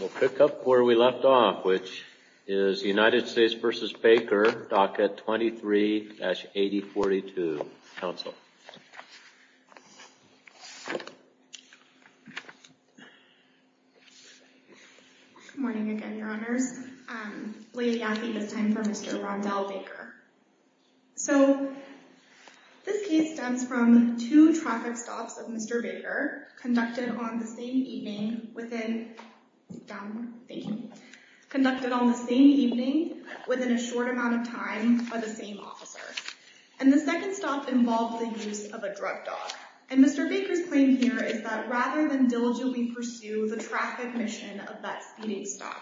We'll pick up where we left off, which is United States v. Baker, DACA 23-8042, Council. Good morning again, Your Honors. Leah Yaffe this time for Mr. Rondell Baker. So this case stems from two traffic stops of Mr. Baker conducted on the same evening within a short amount of time by the same officer. And the second stop involved the use of a drug dog. And Mr. Baker's claim here is that rather than diligently pursue the traffic mission of that speeding stop,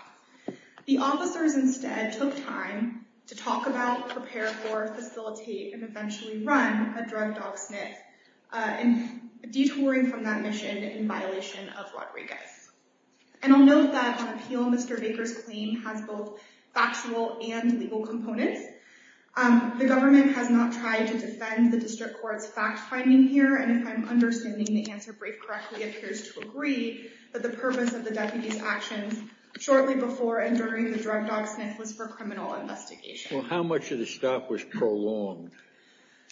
the officers instead took time to talk about, prepare for, facilitate, and eventually run a drug dog sniff detouring from that mission in violation of Rodriguez. And I'll note that on appeal, Mr. Baker's claim has both factual and legal components. The government has not tried to defend the district court's fact-finding here. And if I'm understanding the answer brief correctly, it appears to agree that the purpose of the deputy's actions shortly before and during the drug dog sniff was for criminal investigation. Well, how much of the stop was prolonged?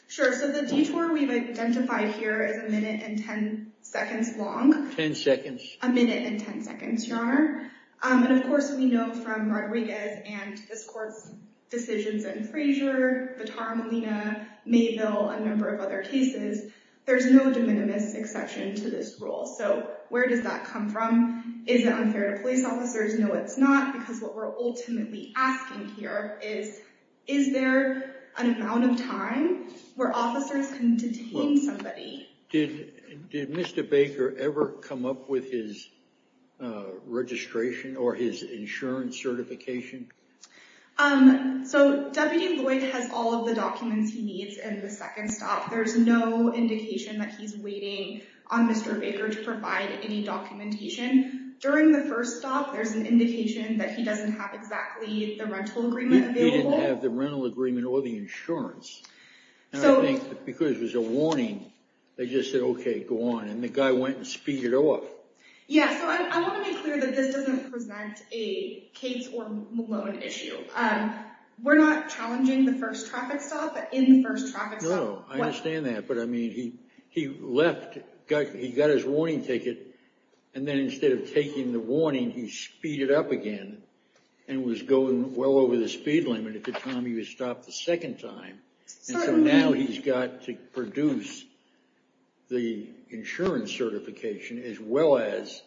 Sure. So the detour we've identified here is a minute and 10 seconds long. 10 seconds? A minute and 10 seconds, Your Honor. And of course, we know from Rodriguez and this court's decisions in Frazier, Vitar Molina, Mayville, a number of other cases, there's no de minimis exception to this rule. So where does that come from? Is it unfair to police officers? No, it's not. Because what we're ultimately asking here is, is there an amount of time where officers can detain somebody? Did Mr. Baker ever come up with his registration or his insurance certification? So Deputy Lloyd has all of the documents he needs in the second stop. There's no indication that he's waiting on Mr. Baker to provide any documentation. During the first stop, there's an indication that he doesn't have exactly the rental agreement available. He didn't have the rental agreement or the insurance. Because it was a warning, they just said, OK, go on. And the guy went and speeded off. Yeah. So I want to be clear that this doesn't present a Cates or Malone issue. We're not challenging the first traffic stop, but in the first traffic stop. No, I understand that. But I mean, he left. He got his warning ticket. And then instead of taking the warning, he speeded up again and was going well over the speed limit at the time he was stopped the second time. So now he's got to produce the insurance certification as well as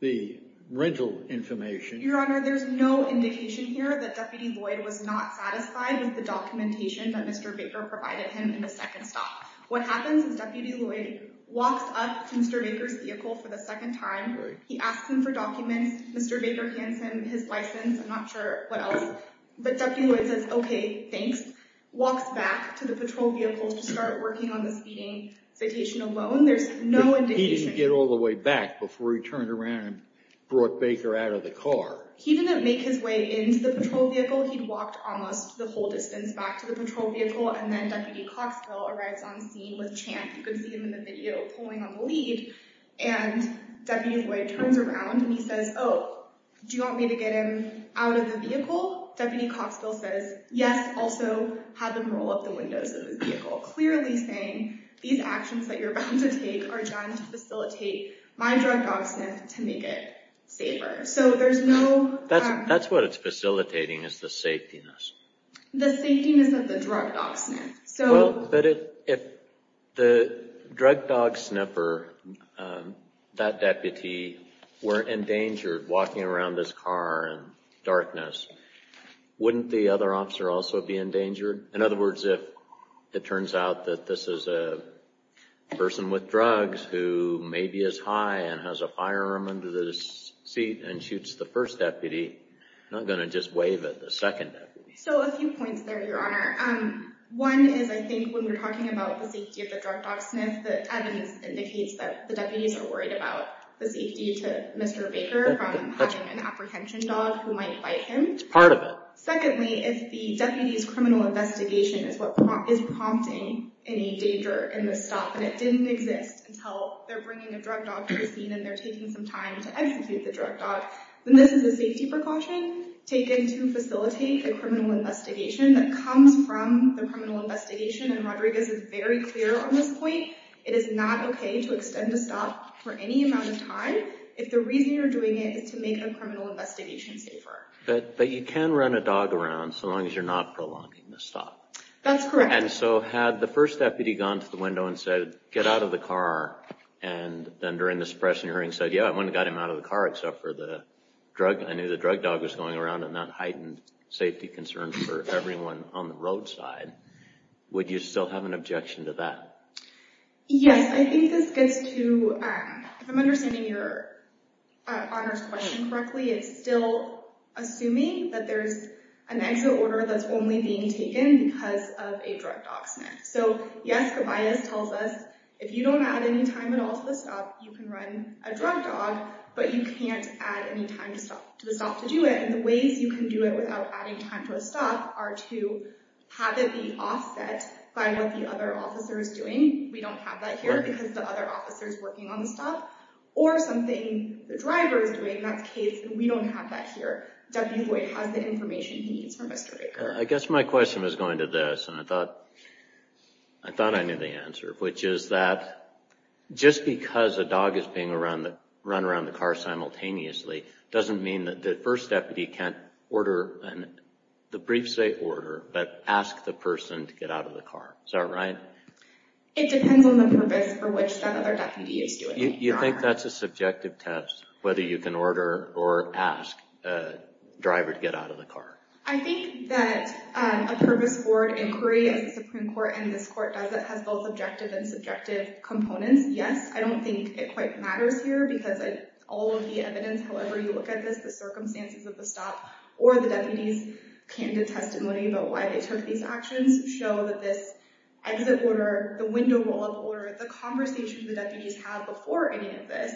the rental information. Your Honor, there's no indication here that Deputy Lloyd was not satisfied with the documentation that Mr. Baker provided him in the second stop. What happens is Deputy Lloyd walks up to Mr. Baker's vehicle for the second time. He asks him for documents. Mr. Baker hands him his license. I'm not sure what else. But Deputy Lloyd says, OK, thanks. Walks back to the patrol vehicle to start working on the speeding citation alone. There's no indication. He didn't get all the way back before he turned around and brought Baker out of the car. He didn't make his way into the patrol vehicle. He'd walked almost the whole distance back to the patrol vehicle. And then Deputy Coxville arrives on scene with Champ. You can see him in the video pulling on the lead. And Deputy Lloyd turns around and he says, oh, do you want me to get him out of the vehicle? Deputy Coxville says, yes. Also had them roll up the windows of his vehicle, clearly saying, these actions that you're about to take are done to facilitate my drug dog sniff to make it safer. That's what it's facilitating, is the safetiness. The safetiness of the drug dog sniff. But if the drug dog sniffer, that deputy, were endangered walking around this car in darkness, wouldn't the other officer also be endangered? In other words, if it turns out that this is a person with drugs who may be as high and has a firearm under the seat and shoots the first deputy, I'm going to just waive it, the second deputy. So a few points there, Your Honor. One is I think when we're talking about the safety of the drug dog sniff, the evidence indicates that the deputies are worried about the safety to Mr. Baker from having an apprehension dog who might bite him. It's part of it. Secondly, if the deputy's criminal investigation is what is prompting any danger in the stop and it didn't exist until they're bringing a drug dog to the scene and they're taking some time to execute the drug dog, then this is a safety precaution taken to facilitate the criminal investigation that comes from the criminal investigation. And Rodriguez is very clear on this point. It is not OK to extend a stop for any amount of time if the reason you're doing it is to make a criminal investigation safer. But you can run a dog around so long as you're not prolonging the stop. That's correct. And so had the first deputy gone to the window and said, get out of the car, and then during the suppression hearing said, yeah, I went and got him out of the car except for the drug. I knew the drug dog was going around and that heightened safety concerns for everyone on the roadside. Would you still have an objection to that? Yes, I think this gets to, if I'm understanding your question correctly, it's still assuming that there's an exit order that's only being taken because of a drug dog. So, yes, the bias tells us if you don't add any time at all to the stop, you can run a drug dog, but you can't add any time to the stop to do it. And the ways you can do it without adding time to a stop are to have it be offset by what the other officer is doing. We don't have that here because the other officer is working on the stop. Or something the driver is doing. In that case, we don't have that here. Deputy Boyd has the information he needs from Mr. Baker. I guess my question was going to this, and I thought I knew the answer, which is that just because a dog is being run around the car simultaneously, doesn't mean that the first deputy can't order, the briefs say order, but ask the person to get out of the car. Is that right? It depends on the purpose for which that other deputy is doing it. You think that's a subjective test, whether you can order or ask a driver to get out of the car? I think that a purpose-forward inquiry as the Supreme Court and this court does it has both objective and subjective components. Yes, I don't think it quite matters here because all of the evidence, however you look at this, the circumstances of the stop or the deputies' candid testimony about why they took these actions, show that this exit order, the window roll-up order, the conversations the deputies have before any of this,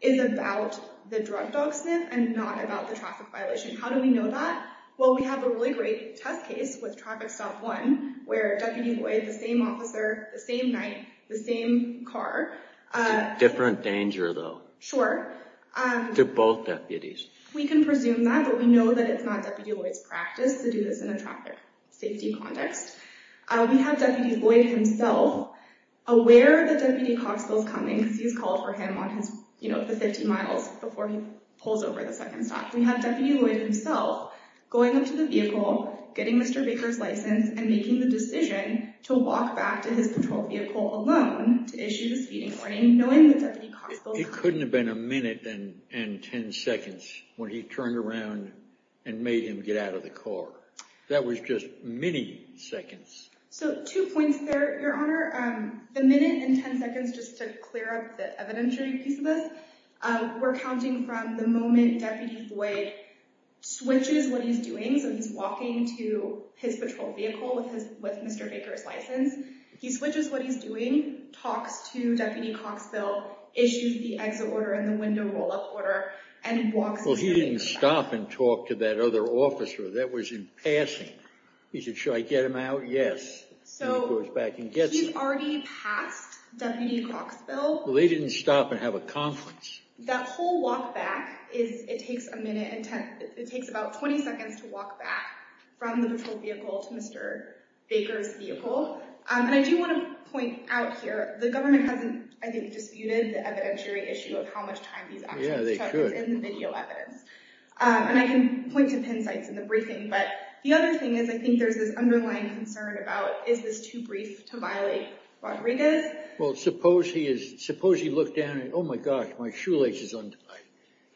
is about the drug dog sniff and not about the traffic violation. How do we know that? Well, we have a really great test case with Traffic Stop 1 where Deputy Lloyd, the same officer, the same night, the same car— Different danger, though. Sure. To both deputies. We can presume that, but we know that it's not Deputy Lloyd's practice to do this in a traffic safety context. We have Deputy Lloyd himself aware that Deputy Coxville's coming because he's called for him on the 50 miles before he pulls over the second stop. We have Deputy Lloyd himself going up to the vehicle, getting Mr. Baker's license, and making the decision to walk back to his patrol vehicle alone to issue the speeding warning, knowing that Deputy Coxville— It couldn't have been a minute and 10 seconds when he turned around and made him get out of the car. That was just many seconds. So, two points there, Your Honor. The minute and 10 seconds, just to clear up the evidentiary piece of this, we're counting from the moment Deputy Lloyd switches what he's doing, so he's walking to his patrol vehicle with Mr. Baker's license. He switches what he's doing, talks to Deputy Coxville, issues the exit order and the window roll-up order, and walks— Well, he didn't stop and talk to that other officer. That was in passing. He said, should I get him out? Yes. So, he's already passed Deputy Coxville. Well, he didn't stop and have a conference. That whole walk back, it takes about 20 seconds to walk back from the patrol vehicle to Mr. Baker's vehicle. And I do want to point out here, the government hasn't, I think, disputed the evidentiary issue of how much time these actions took. Yeah, they could. It's in the video evidence. And I can point to pin sites in the briefing. But the other thing is, I think there's this underlying concern about, is this too brief to violate Rodriguez? Well, suppose he looked down and, oh, my gosh, my shoelace is untied.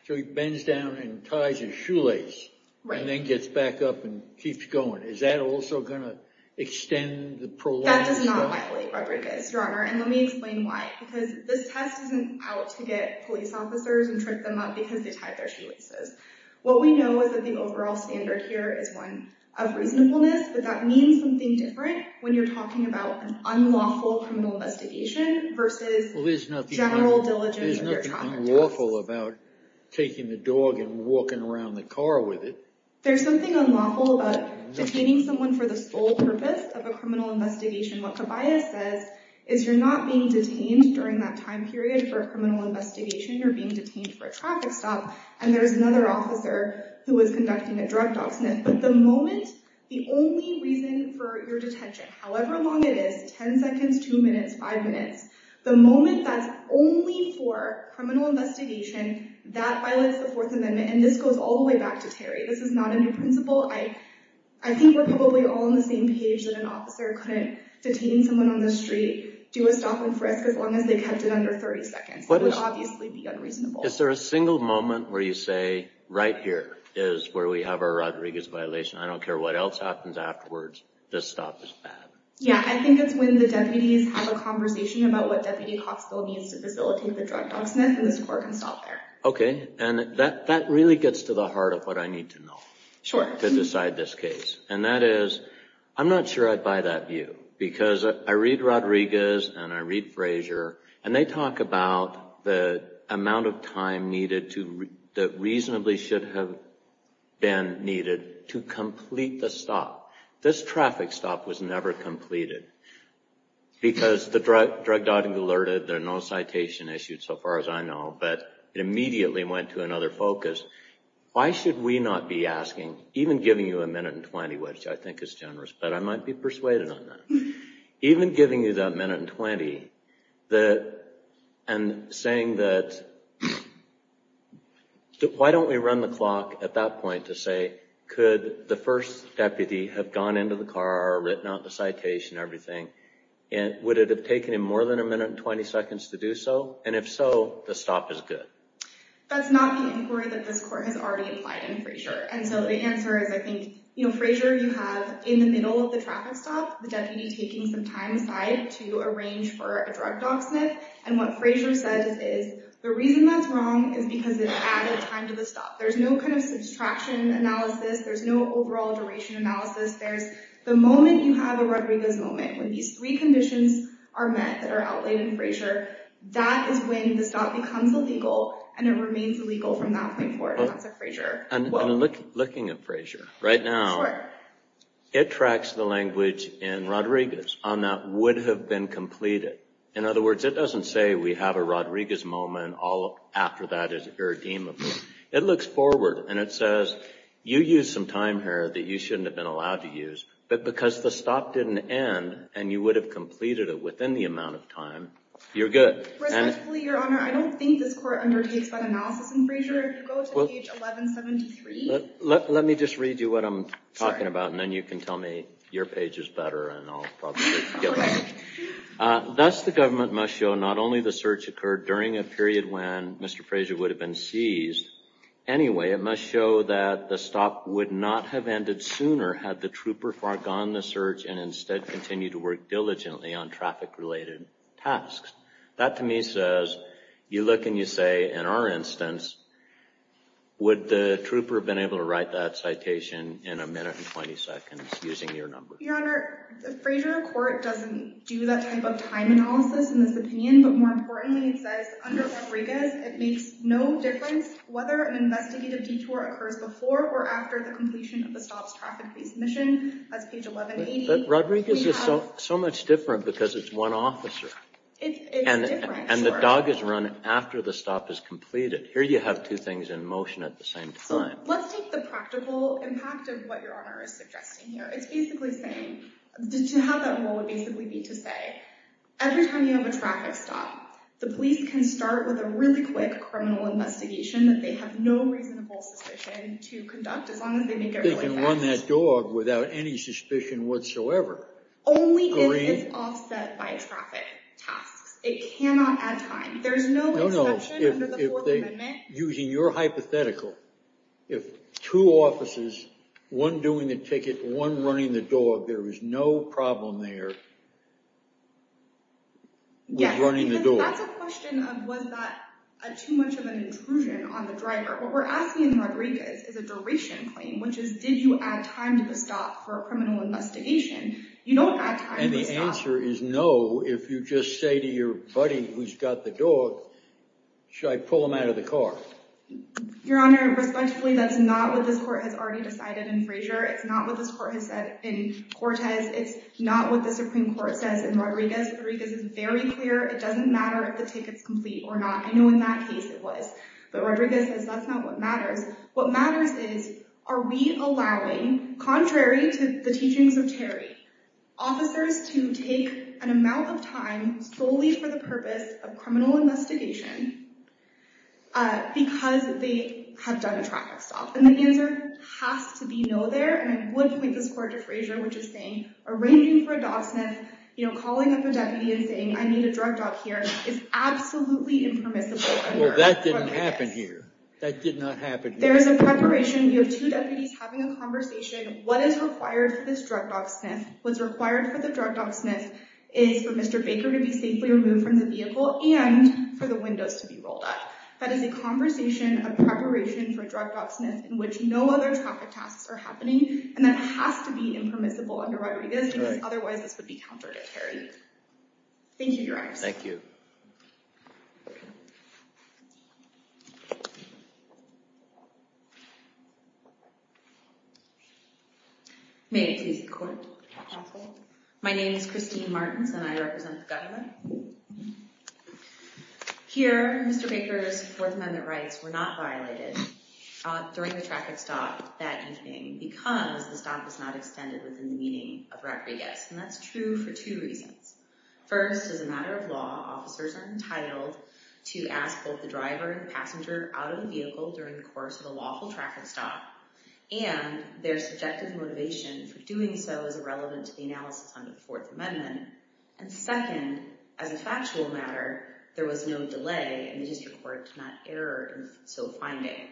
So, he bends down and ties his shoelace. And then gets back up and keeps going. Is that also going to extend the prolonged— That does not violate Rodriguez, Your Honor. And let me explain why. Because this test isn't out to get police officers and trick them up because they tied their shoelaces. What we know is that the overall standard here is one of reasonableness. But that means something different when you're talking about an unlawful criminal investigation versus general diligence of your child. There's nothing unlawful about taking the dog and walking around the car with it. There's something unlawful about detaining someone for the sole purpose of a criminal investigation. What Cabaya says is you're not being detained during that time period for a criminal investigation. You're being detained for a traffic stop. And there's another officer who was conducting a drug dog sniff. But the moment the only reason for your detention, however long it is, 10 seconds, 2 minutes, 5 minutes, the moment that's only for criminal investigation, that violates the Fourth Amendment. And this goes all the way back to Terry. This is not a new principle. I think we're probably all on the same page that an officer couldn't detain someone on the street, do a stop and frisk as long as they kept it under 30 seconds. It would obviously be unreasonable. Is there a single moment where you say, right here is where we have our Rodriguez violation. I don't care what else happens afterwards. This stop is bad. Yeah. I think it's when the deputies have a conversation about what Deputy Coxville needs to facilitate the drug dog sniff. And this court can stop there. OK. And that really gets to the heart of what I need to know. Sure. To decide this case. And that is, I'm not sure I'd buy that view. Because I read Rodriguez and I read Frazier. And they talk about the amount of time that reasonably should have been needed to complete the stop. This traffic stop was never completed. Because the drug dog alerted. There are no citation issues so far as I know. But it immediately went to another focus. Why should we not be asking, even giving you a minute and 20, which I think is generous. But I might be persuaded on that. Even giving you that minute and 20, and saying that, why don't we run the clock at that point to say, could the first deputy have gone into the car, written out the citation, everything. Would it have taken him more than a minute and 20 seconds to do so? And if so, the stop is good. That's not the inquiry that this court has already implied in Frazier. And so the answer is, I think, Frazier, you have in the middle of the traffic stop, the deputy taking some time aside to arrange for a drug dog sniff. And what Frazier says is, the reason that's wrong is because it added time to the stop. There's no kind of subtraction analysis. There's no overall duration analysis. There's the moment you have a Rodriguez moment, when these three conditions are met that are outlaid in Frazier. That is when the stop becomes illegal, and it remains illegal from that point forward. And that's a Frazier quote. And looking at Frazier, right now, it tracks the language in Rodriguez on that would have been completed. In other words, it doesn't say we have a Rodriguez moment all after that is irredeemable. It looks forward, and it says, you used some time here that you shouldn't have been allowed to use. But because the stop didn't end, and you would have completed it within the amount of time, you're good. Respectfully, Your Honor, I don't think this court undertakes that analysis in Frazier. If you go to page 1173. Let me just read you what I'm talking about, and then you can tell me your page is better, and I'll probably get that. Thus, the government must show not only the search occurred during a period when Mr. Frazier would have been seized. Anyway, it must show that the stop would not have ended sooner had the trooper foregone the search and instead continue to work diligently on traffic-related tasks. That to me says, you look and you say, in our instance, would the trooper have been able to write that citation in a minute and 20 seconds using your number? Your Honor, the Frazier court doesn't do that type of time analysis in this opinion. But more importantly, it says, under Rodriguez, it makes no difference whether an investigative detour occurs before or after the completion of the stop's traffic-based mission. That's page 1180. But Rodriguez is so much different because it's one officer. It's different. And the dog is run after the stop is completed. Here you have two things in motion at the same time. Let's take the practical impact of what Your Honor is suggesting here. It's basically saying, to have that rule would basically be to say, every time you have a traffic stop, the police can start with a really quick criminal investigation that they have no reasonable suspicion to conduct as long as they make it really fast. They can run that dog without any suspicion whatsoever. Only if it's offset by traffic tasks. It cannot add time. There's no instruction under the Fourth Amendment. Using your hypothetical, if two offices, one doing the ticket, one running the dog, there is no problem there with running the dog. Yes, because that's a question of, was that too much of an intrusion on the driver? What we're asking in Rodriguez is a duration claim, which is, did you add time to the stop for a criminal investigation? You don't add time to the stop. And the answer is no. If you just say to your buddy who's got the dog, should I pull him out of the car? Your Honor, respectfully, that's not what this court has already decided in Frazier. It's not what this court has said in Cortez. It's not what the Supreme Court says in Rodriguez. Rodriguez is very clear. It doesn't matter if the ticket's complete or not. I know in that case it was. But Rodriguez says that's not what matters. What matters is, are we allowing, contrary to the teachings of Terry, officers to take an amount of time solely for the purpose of criminal investigation because they have done a traffic stop? And the answer has to be no there. And I would point this court to Frazier, which is saying, arranging for a dog sniff, calling up a deputy and saying, I need a drug dog here, is absolutely impermissible under Rodriguez. Well, that didn't happen here. That did not happen here. There is a preparation. You have two deputies having a conversation. What is required for this drug dog sniff? What's required for the drug dog sniff is for Mr. Baker to be safely removed from the vehicle and for the windows to be rolled up. That is a conversation of preparation for drug dog sniff in which no other traffic tasks are happening. And that has to be impermissible under Rodriguez because otherwise this would be counter to Terry. Thank you, Your Honor. Thank you. May it please the court. Counsel. My name is Christine Martins and I represent the government. Here, Mr. Baker's Fourth Amendment rights were not violated during the traffic stop that evening because the stop was not extended within the meaning of Rodriguez. And that's true for two reasons. First, as a matter of law, officers are entitled to ask both the driver and passenger out of the vehicle during the course of a lawful traffic stop and their subjective motivation for doing so is irrelevant to the analysis under the Fourth Amendment. And second, as a factual matter, there was no delay and the district court did not err in so finding.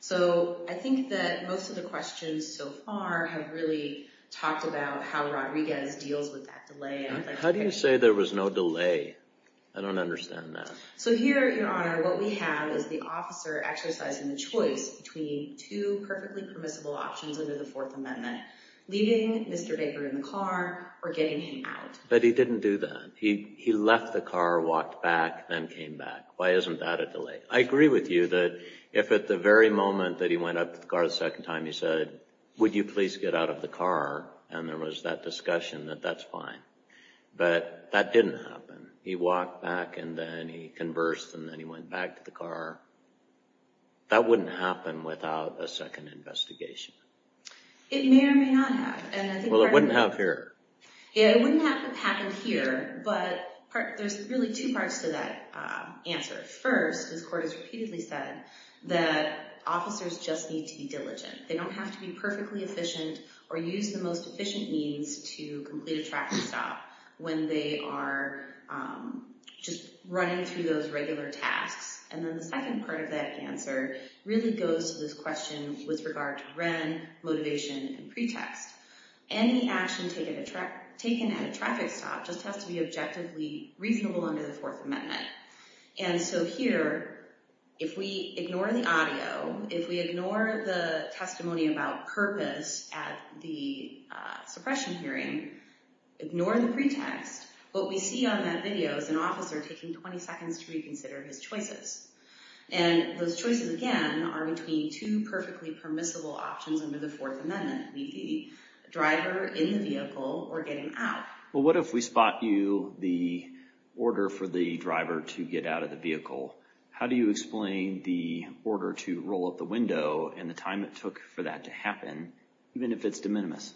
So I think that most of the questions so far have really talked about how Rodriguez deals with that delay. How do you say there was no delay? I don't understand that. So here, Your Honor, what we have is the officer exercising the choice between two perfectly permissible options under the Fourth Amendment, leaving Mr. Baker in the car or getting him out. But he didn't do that. He left the car, walked back, then came back. Why isn't that a delay? I agree with you that if at the very moment that he went up to the car the second time he said, Would you please get out of the car? And there was that discussion that that's fine. But that didn't happen. He walked back and then he conversed and then he went back to the car. That wouldn't happen without a second investigation. It may or may not have. Well, it wouldn't have here. Yeah, it wouldn't have happened here. But there's really two parts to that answer. First, this court has repeatedly said that officers just need to be diligent. They don't have to be perfectly efficient or use the most efficient means to complete a track and stop when they are just running through those regular tasks. And then the second part of that answer really goes to this question with regard to ren, motivation, and pretext. Any action taken at a traffic stop just has to be objectively reasonable under the Fourth Amendment. And so here, if we ignore the audio, if we ignore the testimony about purpose at the suppression hearing, ignore the pretext, what we see on that video is an officer taking 20 seconds to reconsider his choices. And those choices, again, are between two perfectly permissible options under the Fourth Amendment. Leave the driver in the vehicle or get him out. Well, what if we spot you the order for the driver to get out of the vehicle? How do you explain the order to roll up the window and the time it took for that to happen, even if it's de minimis?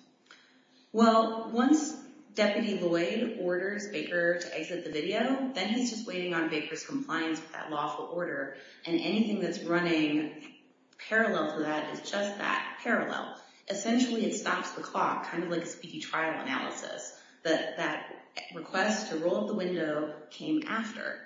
Well, once Deputy Lloyd orders Baker to exit the video, then he's just waiting on Baker's compliance with that lawful order. And anything that's running parallel to that is just that, parallel. Essentially, it stops the clock, kind of like a speedy trial analysis. That request to roll up the window came after.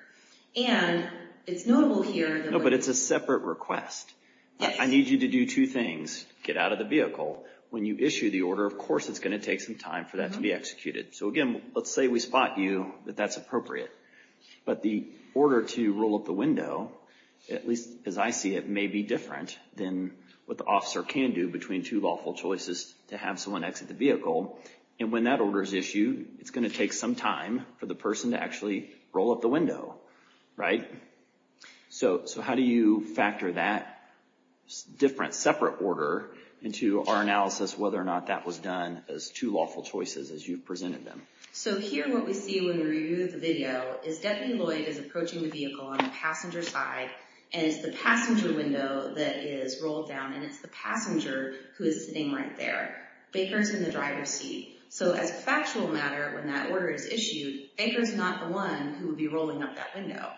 And it's notable here that— No, but it's a separate request. Yes. I need you to do two things. Get out of the vehicle. When you issue the order, of course it's going to take some time for that to be executed. So, again, let's say we spot you that that's appropriate. But the order to roll up the window, at least as I see it, may be different than what the officer can do between two lawful choices to have someone exit the vehicle. And when that order is issued, it's going to take some time for the person to actually roll up the window, right? So, how do you factor that different, separate order into our analysis whether or not that was done as two lawful choices as you've presented them? So, here what we see when we review the video is Deputy Lloyd is approaching the vehicle on the passenger side. And it's the passenger window that is rolled down. And it's the passenger who is sitting right there. Baker's in the driver's seat. So, as a factual matter, when that order is issued, Baker's not the one who would be rolling up that window.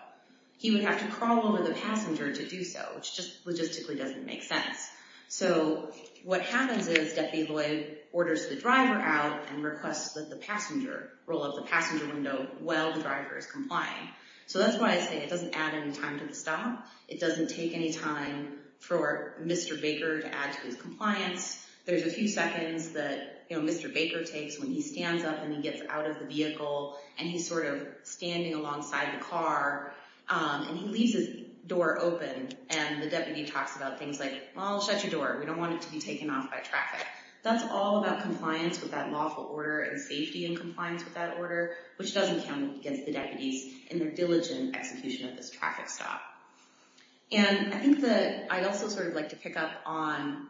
He would have to crawl over the passenger to do so, which just logistically doesn't make sense. So, what happens is Deputy Lloyd orders the driver out and requests that the passenger roll up the passenger window while the driver is complying. So, that's why I say it doesn't add any time to the stop. It doesn't take any time for Mr. Baker to add to his compliance. There's a few seconds that Mr. Baker takes when he stands up and he gets out of the vehicle. And he's sort of standing alongside the car. And he leaves his door open. And the deputy talks about things like, well, shut your door. We don't want it to be taken off by traffic. That's all about compliance with that lawful order and safety and compliance with that order, which doesn't count against the deputies in their diligent execution of this traffic stop. And I think that I'd also sort of like to pick up on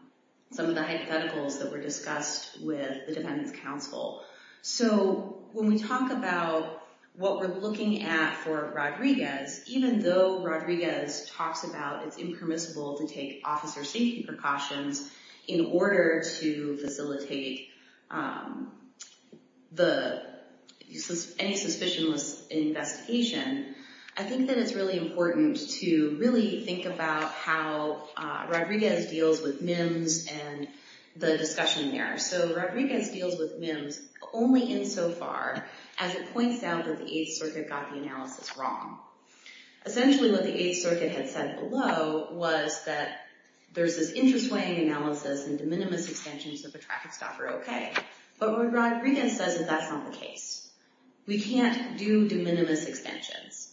some of the hypotheticals that were discussed with the Defendant's Counsel. So, when we talk about what we're looking at for Rodriguez, even though Rodriguez talks about it's impermissible to take officer safety precautions in order to facilitate any suspicionless investigation, I think that it's really important to really think about how Rodriguez deals with MIMS and the discussion there. So, Rodriguez deals with MIMS only insofar as it points out that the Eighth Circuit got the analysis wrong. Essentially, what the Eighth Circuit had said below was that there's this interswaying analysis and de minimis extensions of a traffic stop are okay. But what Rodriguez says is that's not the case. We can't do de minimis extensions.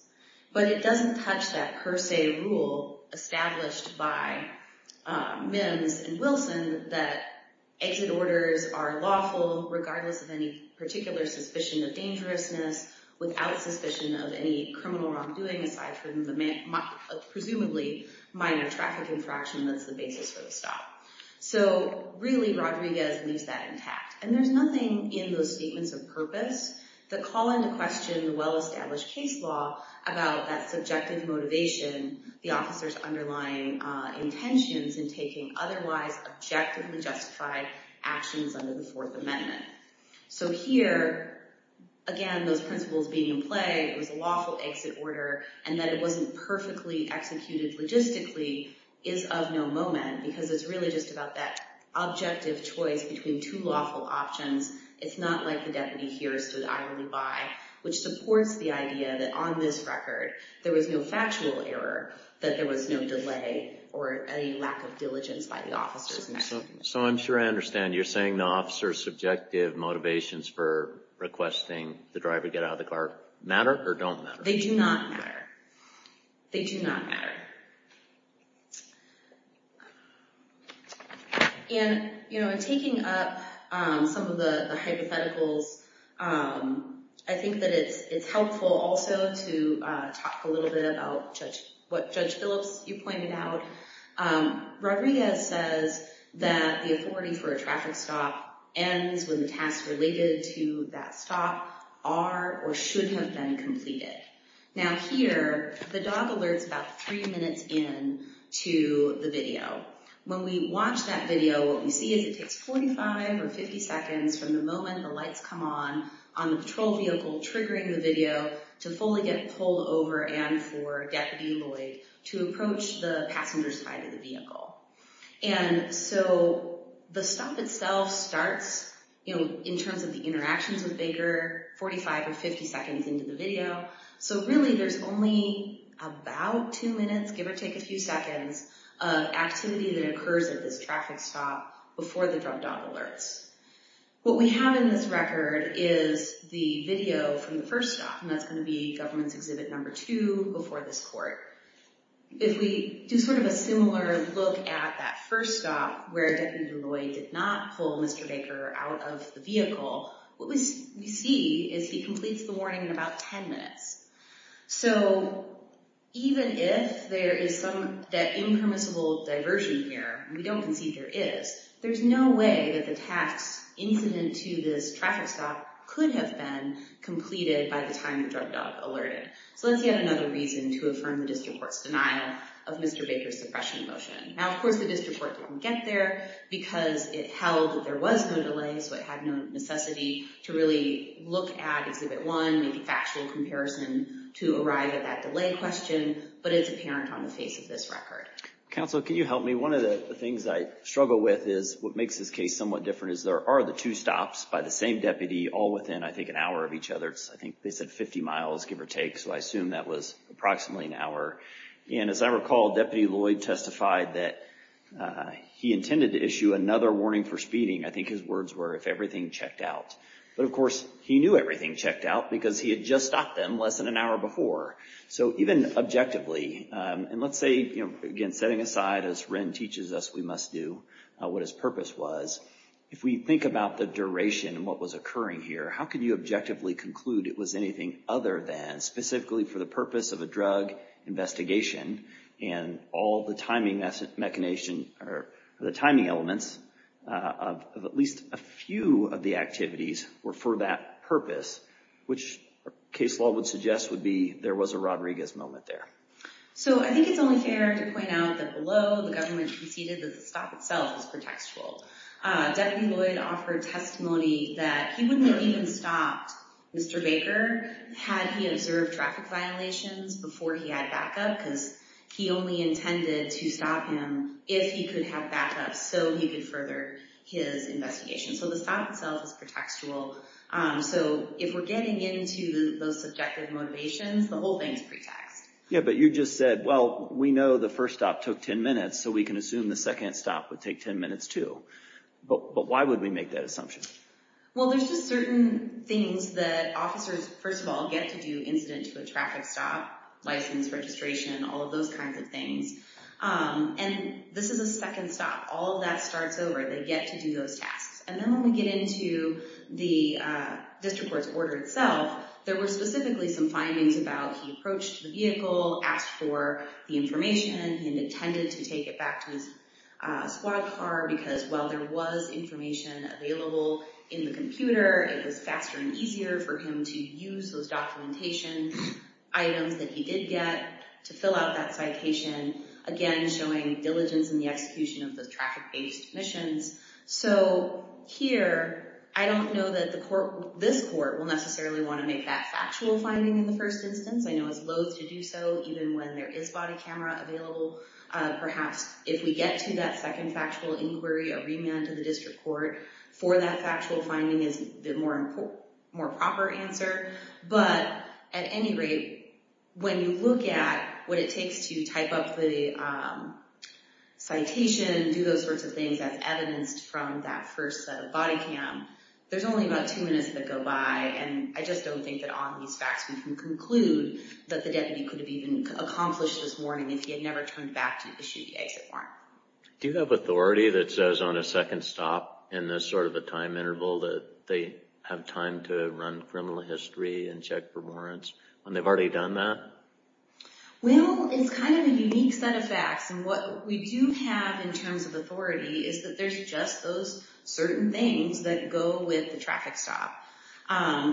But it doesn't touch that per se rule established by MIMS and Wilson that exit orders are lawful regardless of any particular suspicion of dangerousness, without suspicion of any criminal wrongdoing aside from the presumably minor traffic infraction that's the basis for the stop. So, really, Rodriguez leaves that intact. And there's nothing in those statements of purpose that call into question the well-established case law about that subjective motivation, the officers underlying intentions in taking otherwise objectively justified actions under the Fourth Amendment. So, here, again, those principles being in play, it was a lawful exit order, and that it wasn't perfectly executed logistically is of no moment because it's really just about that objective choice between two lawful options. It's not like the deputy here stood idly by, which supports the idea that on this record there was no factual error, that there was no delay or any lack of diligence by the officers. So, I'm sure I understand. You're saying the officers' subjective motivations for requesting the driver get out of the car matter or don't matter? They do not matter. They do not matter. And, you know, in taking up some of the hypotheticals, I think that it's helpful also to talk a little bit about what Judge Phillips, you pointed out. Rodriguez says that the authority for a traffic stop ends when the tasks related to that stop are or should have been completed. Now, here, the dog alerts about three minutes into the video. When we watch that video, what we see is it takes 45 or 50 seconds from the moment the lights come on on the patrol vehicle triggering the video to fully get pulled over and for Deputy Lloyd to approach the passenger side of the vehicle. And so, the stop itself starts, you know, in terms of the interactions with Baker, 45 or 50 seconds into the video. So, really, there's only about two minutes, give or take a few seconds, of activity that occurs at this traffic stop before the drug dog alerts. What we have in this record is the video from the first stop, and that's going to be government's exhibit number two before this court. If we do sort of a similar look at that first stop where Deputy Lloyd did not pull Mr. Baker out of the vehicle, what we see is he completes the warning in about 10 minutes. So, even if there is some, that impermissible diversion here, we don't concede there is, there's no way that the tasks incident to this traffic stop could have been completed by the time the drug dog alerted. So, that's yet another reason to affirm the District Court's denial of Mr. Baker's suppression motion. Now, of course, the District Court didn't get there because it held that there was no delay, so it had no necessity to really look at exhibit one, make a factual comparison to arrive at that delay question, but it's apparent on the face of this record. Counsel, can you help me? One of the things I struggle with is what makes this case somewhat different is there are the two stops by the same deputy all within, I think, an hour of each other. I think they said 50 miles, give or take, so I assume that was approximately an hour. And, as I recall, Deputy Lloyd testified that he intended to issue another warning for speeding. I think his words were, if everything checked out. But, of course, he knew everything checked out because he had just stopped them less than an hour before. So, even objectively, and let's say, again, setting aside as Wren teaches us we must do, what his purpose was, if we think about the duration and what was occurring here, how could you objectively conclude it was anything other than specifically for the purpose of a drug investigation and all the timing elements of at least a few of the activities were for that purpose, which case law would suggest would be there was a Rodriguez moment there. So, I think it's only fair to point out that below the government conceded that the stop itself is pretextual. Deputy Lloyd offered testimony that he wouldn't have even stopped Mr. Baker had he observed traffic violations before he had backup because he only intended to stop him if he could have backup so he could further his investigation. So, the stop itself is pretextual. So, if we're getting into those subjective motivations, the whole thing is pretext. Yeah, but you just said, well, we know the first stop took 10 minutes, so we can assume the second stop would take 10 minutes, too. But why would we make that assumption? Well, there's just certain things that officers, first of all, get to do incident to a traffic stop, license, registration, all of those kinds of things. And this is a second stop. All of that starts over. They get to do those tasks. And then when we get into the district court's order itself, there were specifically some findings about he approached the vehicle, asked for the information, he intended to take it back to his squad car because while there was information available in the computer, it was faster and easier for him to use those documentation items that he did get to fill out that citation, again, showing diligence in the execution of those traffic-based missions. So, here, I don't know that this court will necessarily want to make that factual finding in the first instance. I know it's loath to do so even when there is body camera available. Perhaps if we get to that second factual inquiry, a remand to the district court for that factual finding is the more proper answer. But at any rate, when you look at what it takes to type up the citation, do those sorts of things as evidenced from that first set of body cam, there's only about two minutes that go by. And I just don't think that on these facts we can conclude that the deputy could have even accomplished this warning if he had never turned back to issue the exit warrant. Do you have authority that says on a second stop in this sort of a time interval that they have time to run criminal history and check for warrants when they've already done that? Well, it's kind of a unique set of facts. And what we do have in terms of authority is that there's just those certain things that go with the traffic stop.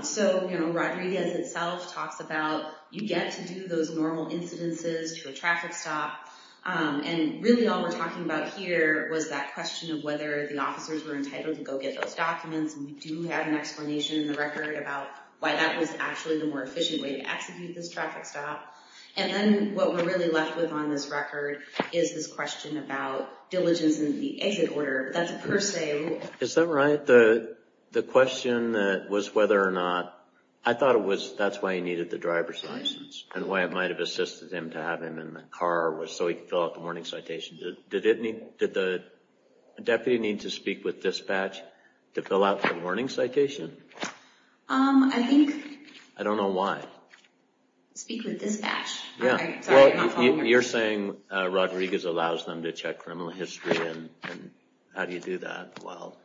So, you know, Rodriguez itself talks about you get to do those normal incidences to a traffic stop. And really all we're talking about here was that question of whether the officers were entitled to go get those documents. And we do have an explanation in the record about why that was actually the more efficient way to execute this traffic stop. And then what we're really left with on this record is this question about diligence in the exit order. That's per se. Is that right? The question was whether or not, I thought it was that's why he needed the driver's license and why it might have assisted him to have him in the car was so he could fill out the warning citation. Did the deputy need to speak with dispatch to fill out the warning citation? I think... I don't know why. Speak with dispatch. You're saying Rodriguez allows them to check criminal history and how do you do that? Well,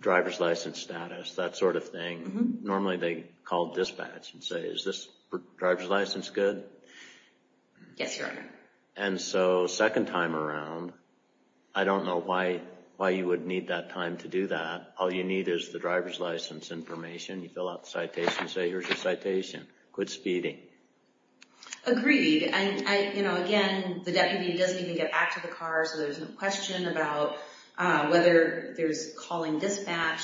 driver's license status, that sort of thing. Normally they call dispatch and say is this driver's license good? Yes, Your Honor. And so second time around, I don't know why you would need that time to do that. All you need is the driver's license information. You fill out the citation and say here's your citation. Quit speeding. Agreed. Again, the deputy doesn't even get back to the car so there's no question about whether there's calling dispatch.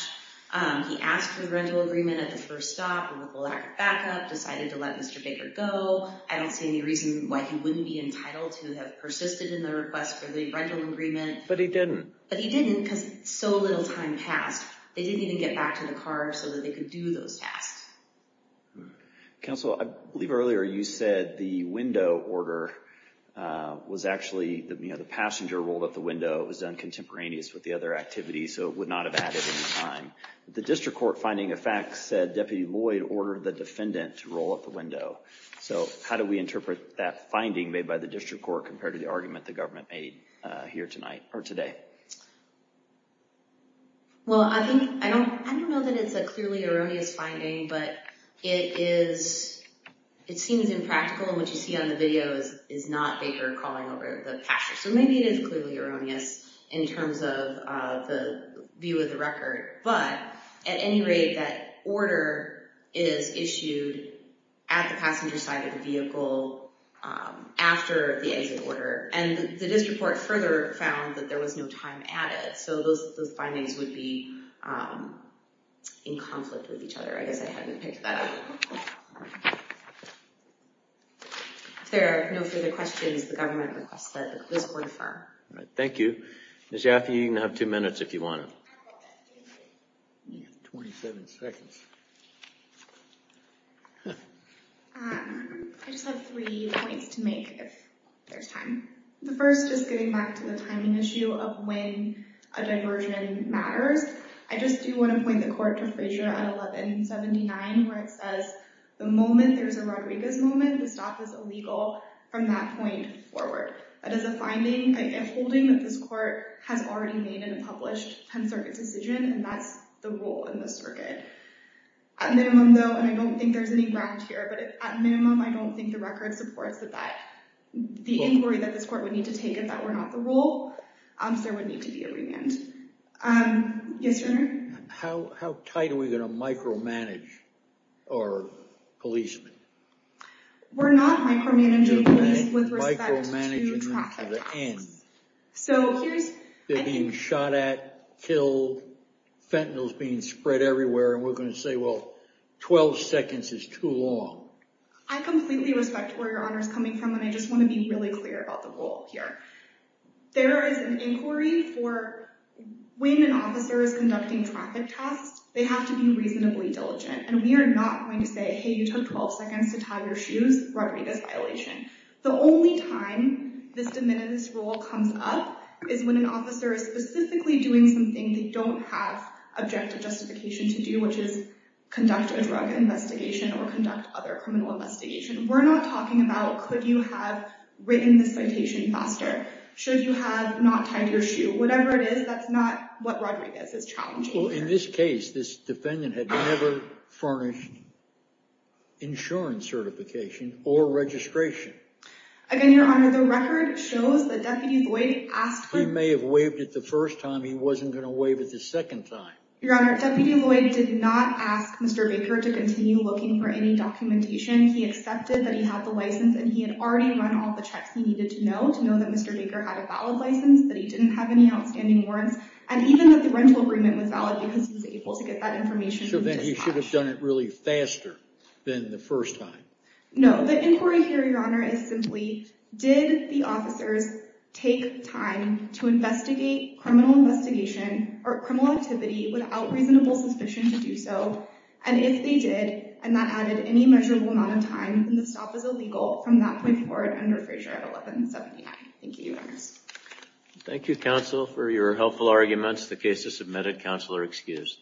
He asked for the rental agreement at the first stop and with a lack of backup decided to let Mr. Baker go. I don't see any reason why he wouldn't be entitled to have persisted in the request for the rental agreement. But he didn't. But he didn't because so little time passed. They didn't even get back to the car so that they could do those tasks. Counsel, I believe earlier you said the window order was actually the passenger rolled up the window. It was done contemporaneous with the other activities so it would not have added any time. The district court finding of facts said Deputy Lloyd ordered the defendant to roll up the window. So how do we interpret that finding made by the district court compared to the argument the government made here tonight or today? Well, I don't know that it's a clearly erroneous finding but it seems impractical and what you see on the video is not Baker calling over the passenger. So maybe it is clearly erroneous in terms of the view of the record. But at any rate, that order is issued at the passenger side of the vehicle after the exit order. And the district court further found that there was no time added. So those findings would be in conflict with each other. I guess I haven't picked that up. If there are no further questions, the government requests that this be referred. Thank you. Ms. Jaffe, you can have two minutes if you want to. You have 27 seconds. I just have three points to make if there's time. The first is getting back to the timing issue of when a diversion matters. I just do want to point the court to Frazier at 1179 where it says the moment there's a Rodriguez moment, the stop is illegal from that point forward. That is a finding, a holding that this court has already made in a published 10th Circuit decision and that's the rule in this circuit. At minimum though, and I don't think there's any ground here, but at minimum I don't think the record supports that the inquiry that this court would need to take if that were not the rule, there would need to be a remand. Yes, Your Honor? How tight are we going to micromanage our policemen? We're not micromanaging them with respect to traffic. They're being shot at, killed, fentanyl is being spread everywhere and we're going to say, well, 12 seconds is too long. I completely respect where Your Honor is coming from and I just want to be really clear about the rule here. There is an inquiry for when an officer is conducting traffic tests, they have to be reasonably diligent and we are not going to say, hey, you took 12 seconds to tie your shoes, Rodriguez violation. The only time this de minimis rule comes up is when an officer is specifically doing something they don't have objective justification to do, which is conduct a drug investigation or conduct other criminal investigation. We're not talking about could you have written the citation faster? Should you have not tied your shoe? Whatever it is, that's not what Rodriguez is challenging here. Well, in this case, this defendant had never furnished insurance certification or registration. Again, Your Honor, the record shows that Deputy Lloyd asked for... He may have waived it the first time, he wasn't going to waive it the second time. Your Honor, Deputy Lloyd did not ask Mr. Baker to continue looking for any documentation. He accepted that he had the license and he had already run all the checks he needed to know, to know that Mr. Baker had a valid license, that he didn't have any outstanding warrants, and even that the rental agreement was valid because he was able to get that information. So then he should have done it really faster than the first time. No, the inquiry here, Your Honor, is simply did the officers take time to investigate criminal investigation or criminal activity without reasonable suspicion to do so? And if they did, and that added any measurable amount of time, then the stop is illegal from that point forward under Frazier 1179. Thank you, Your Honor. Thank you, counsel, for your helpful arguments. The case is submitted. Counsel are excused.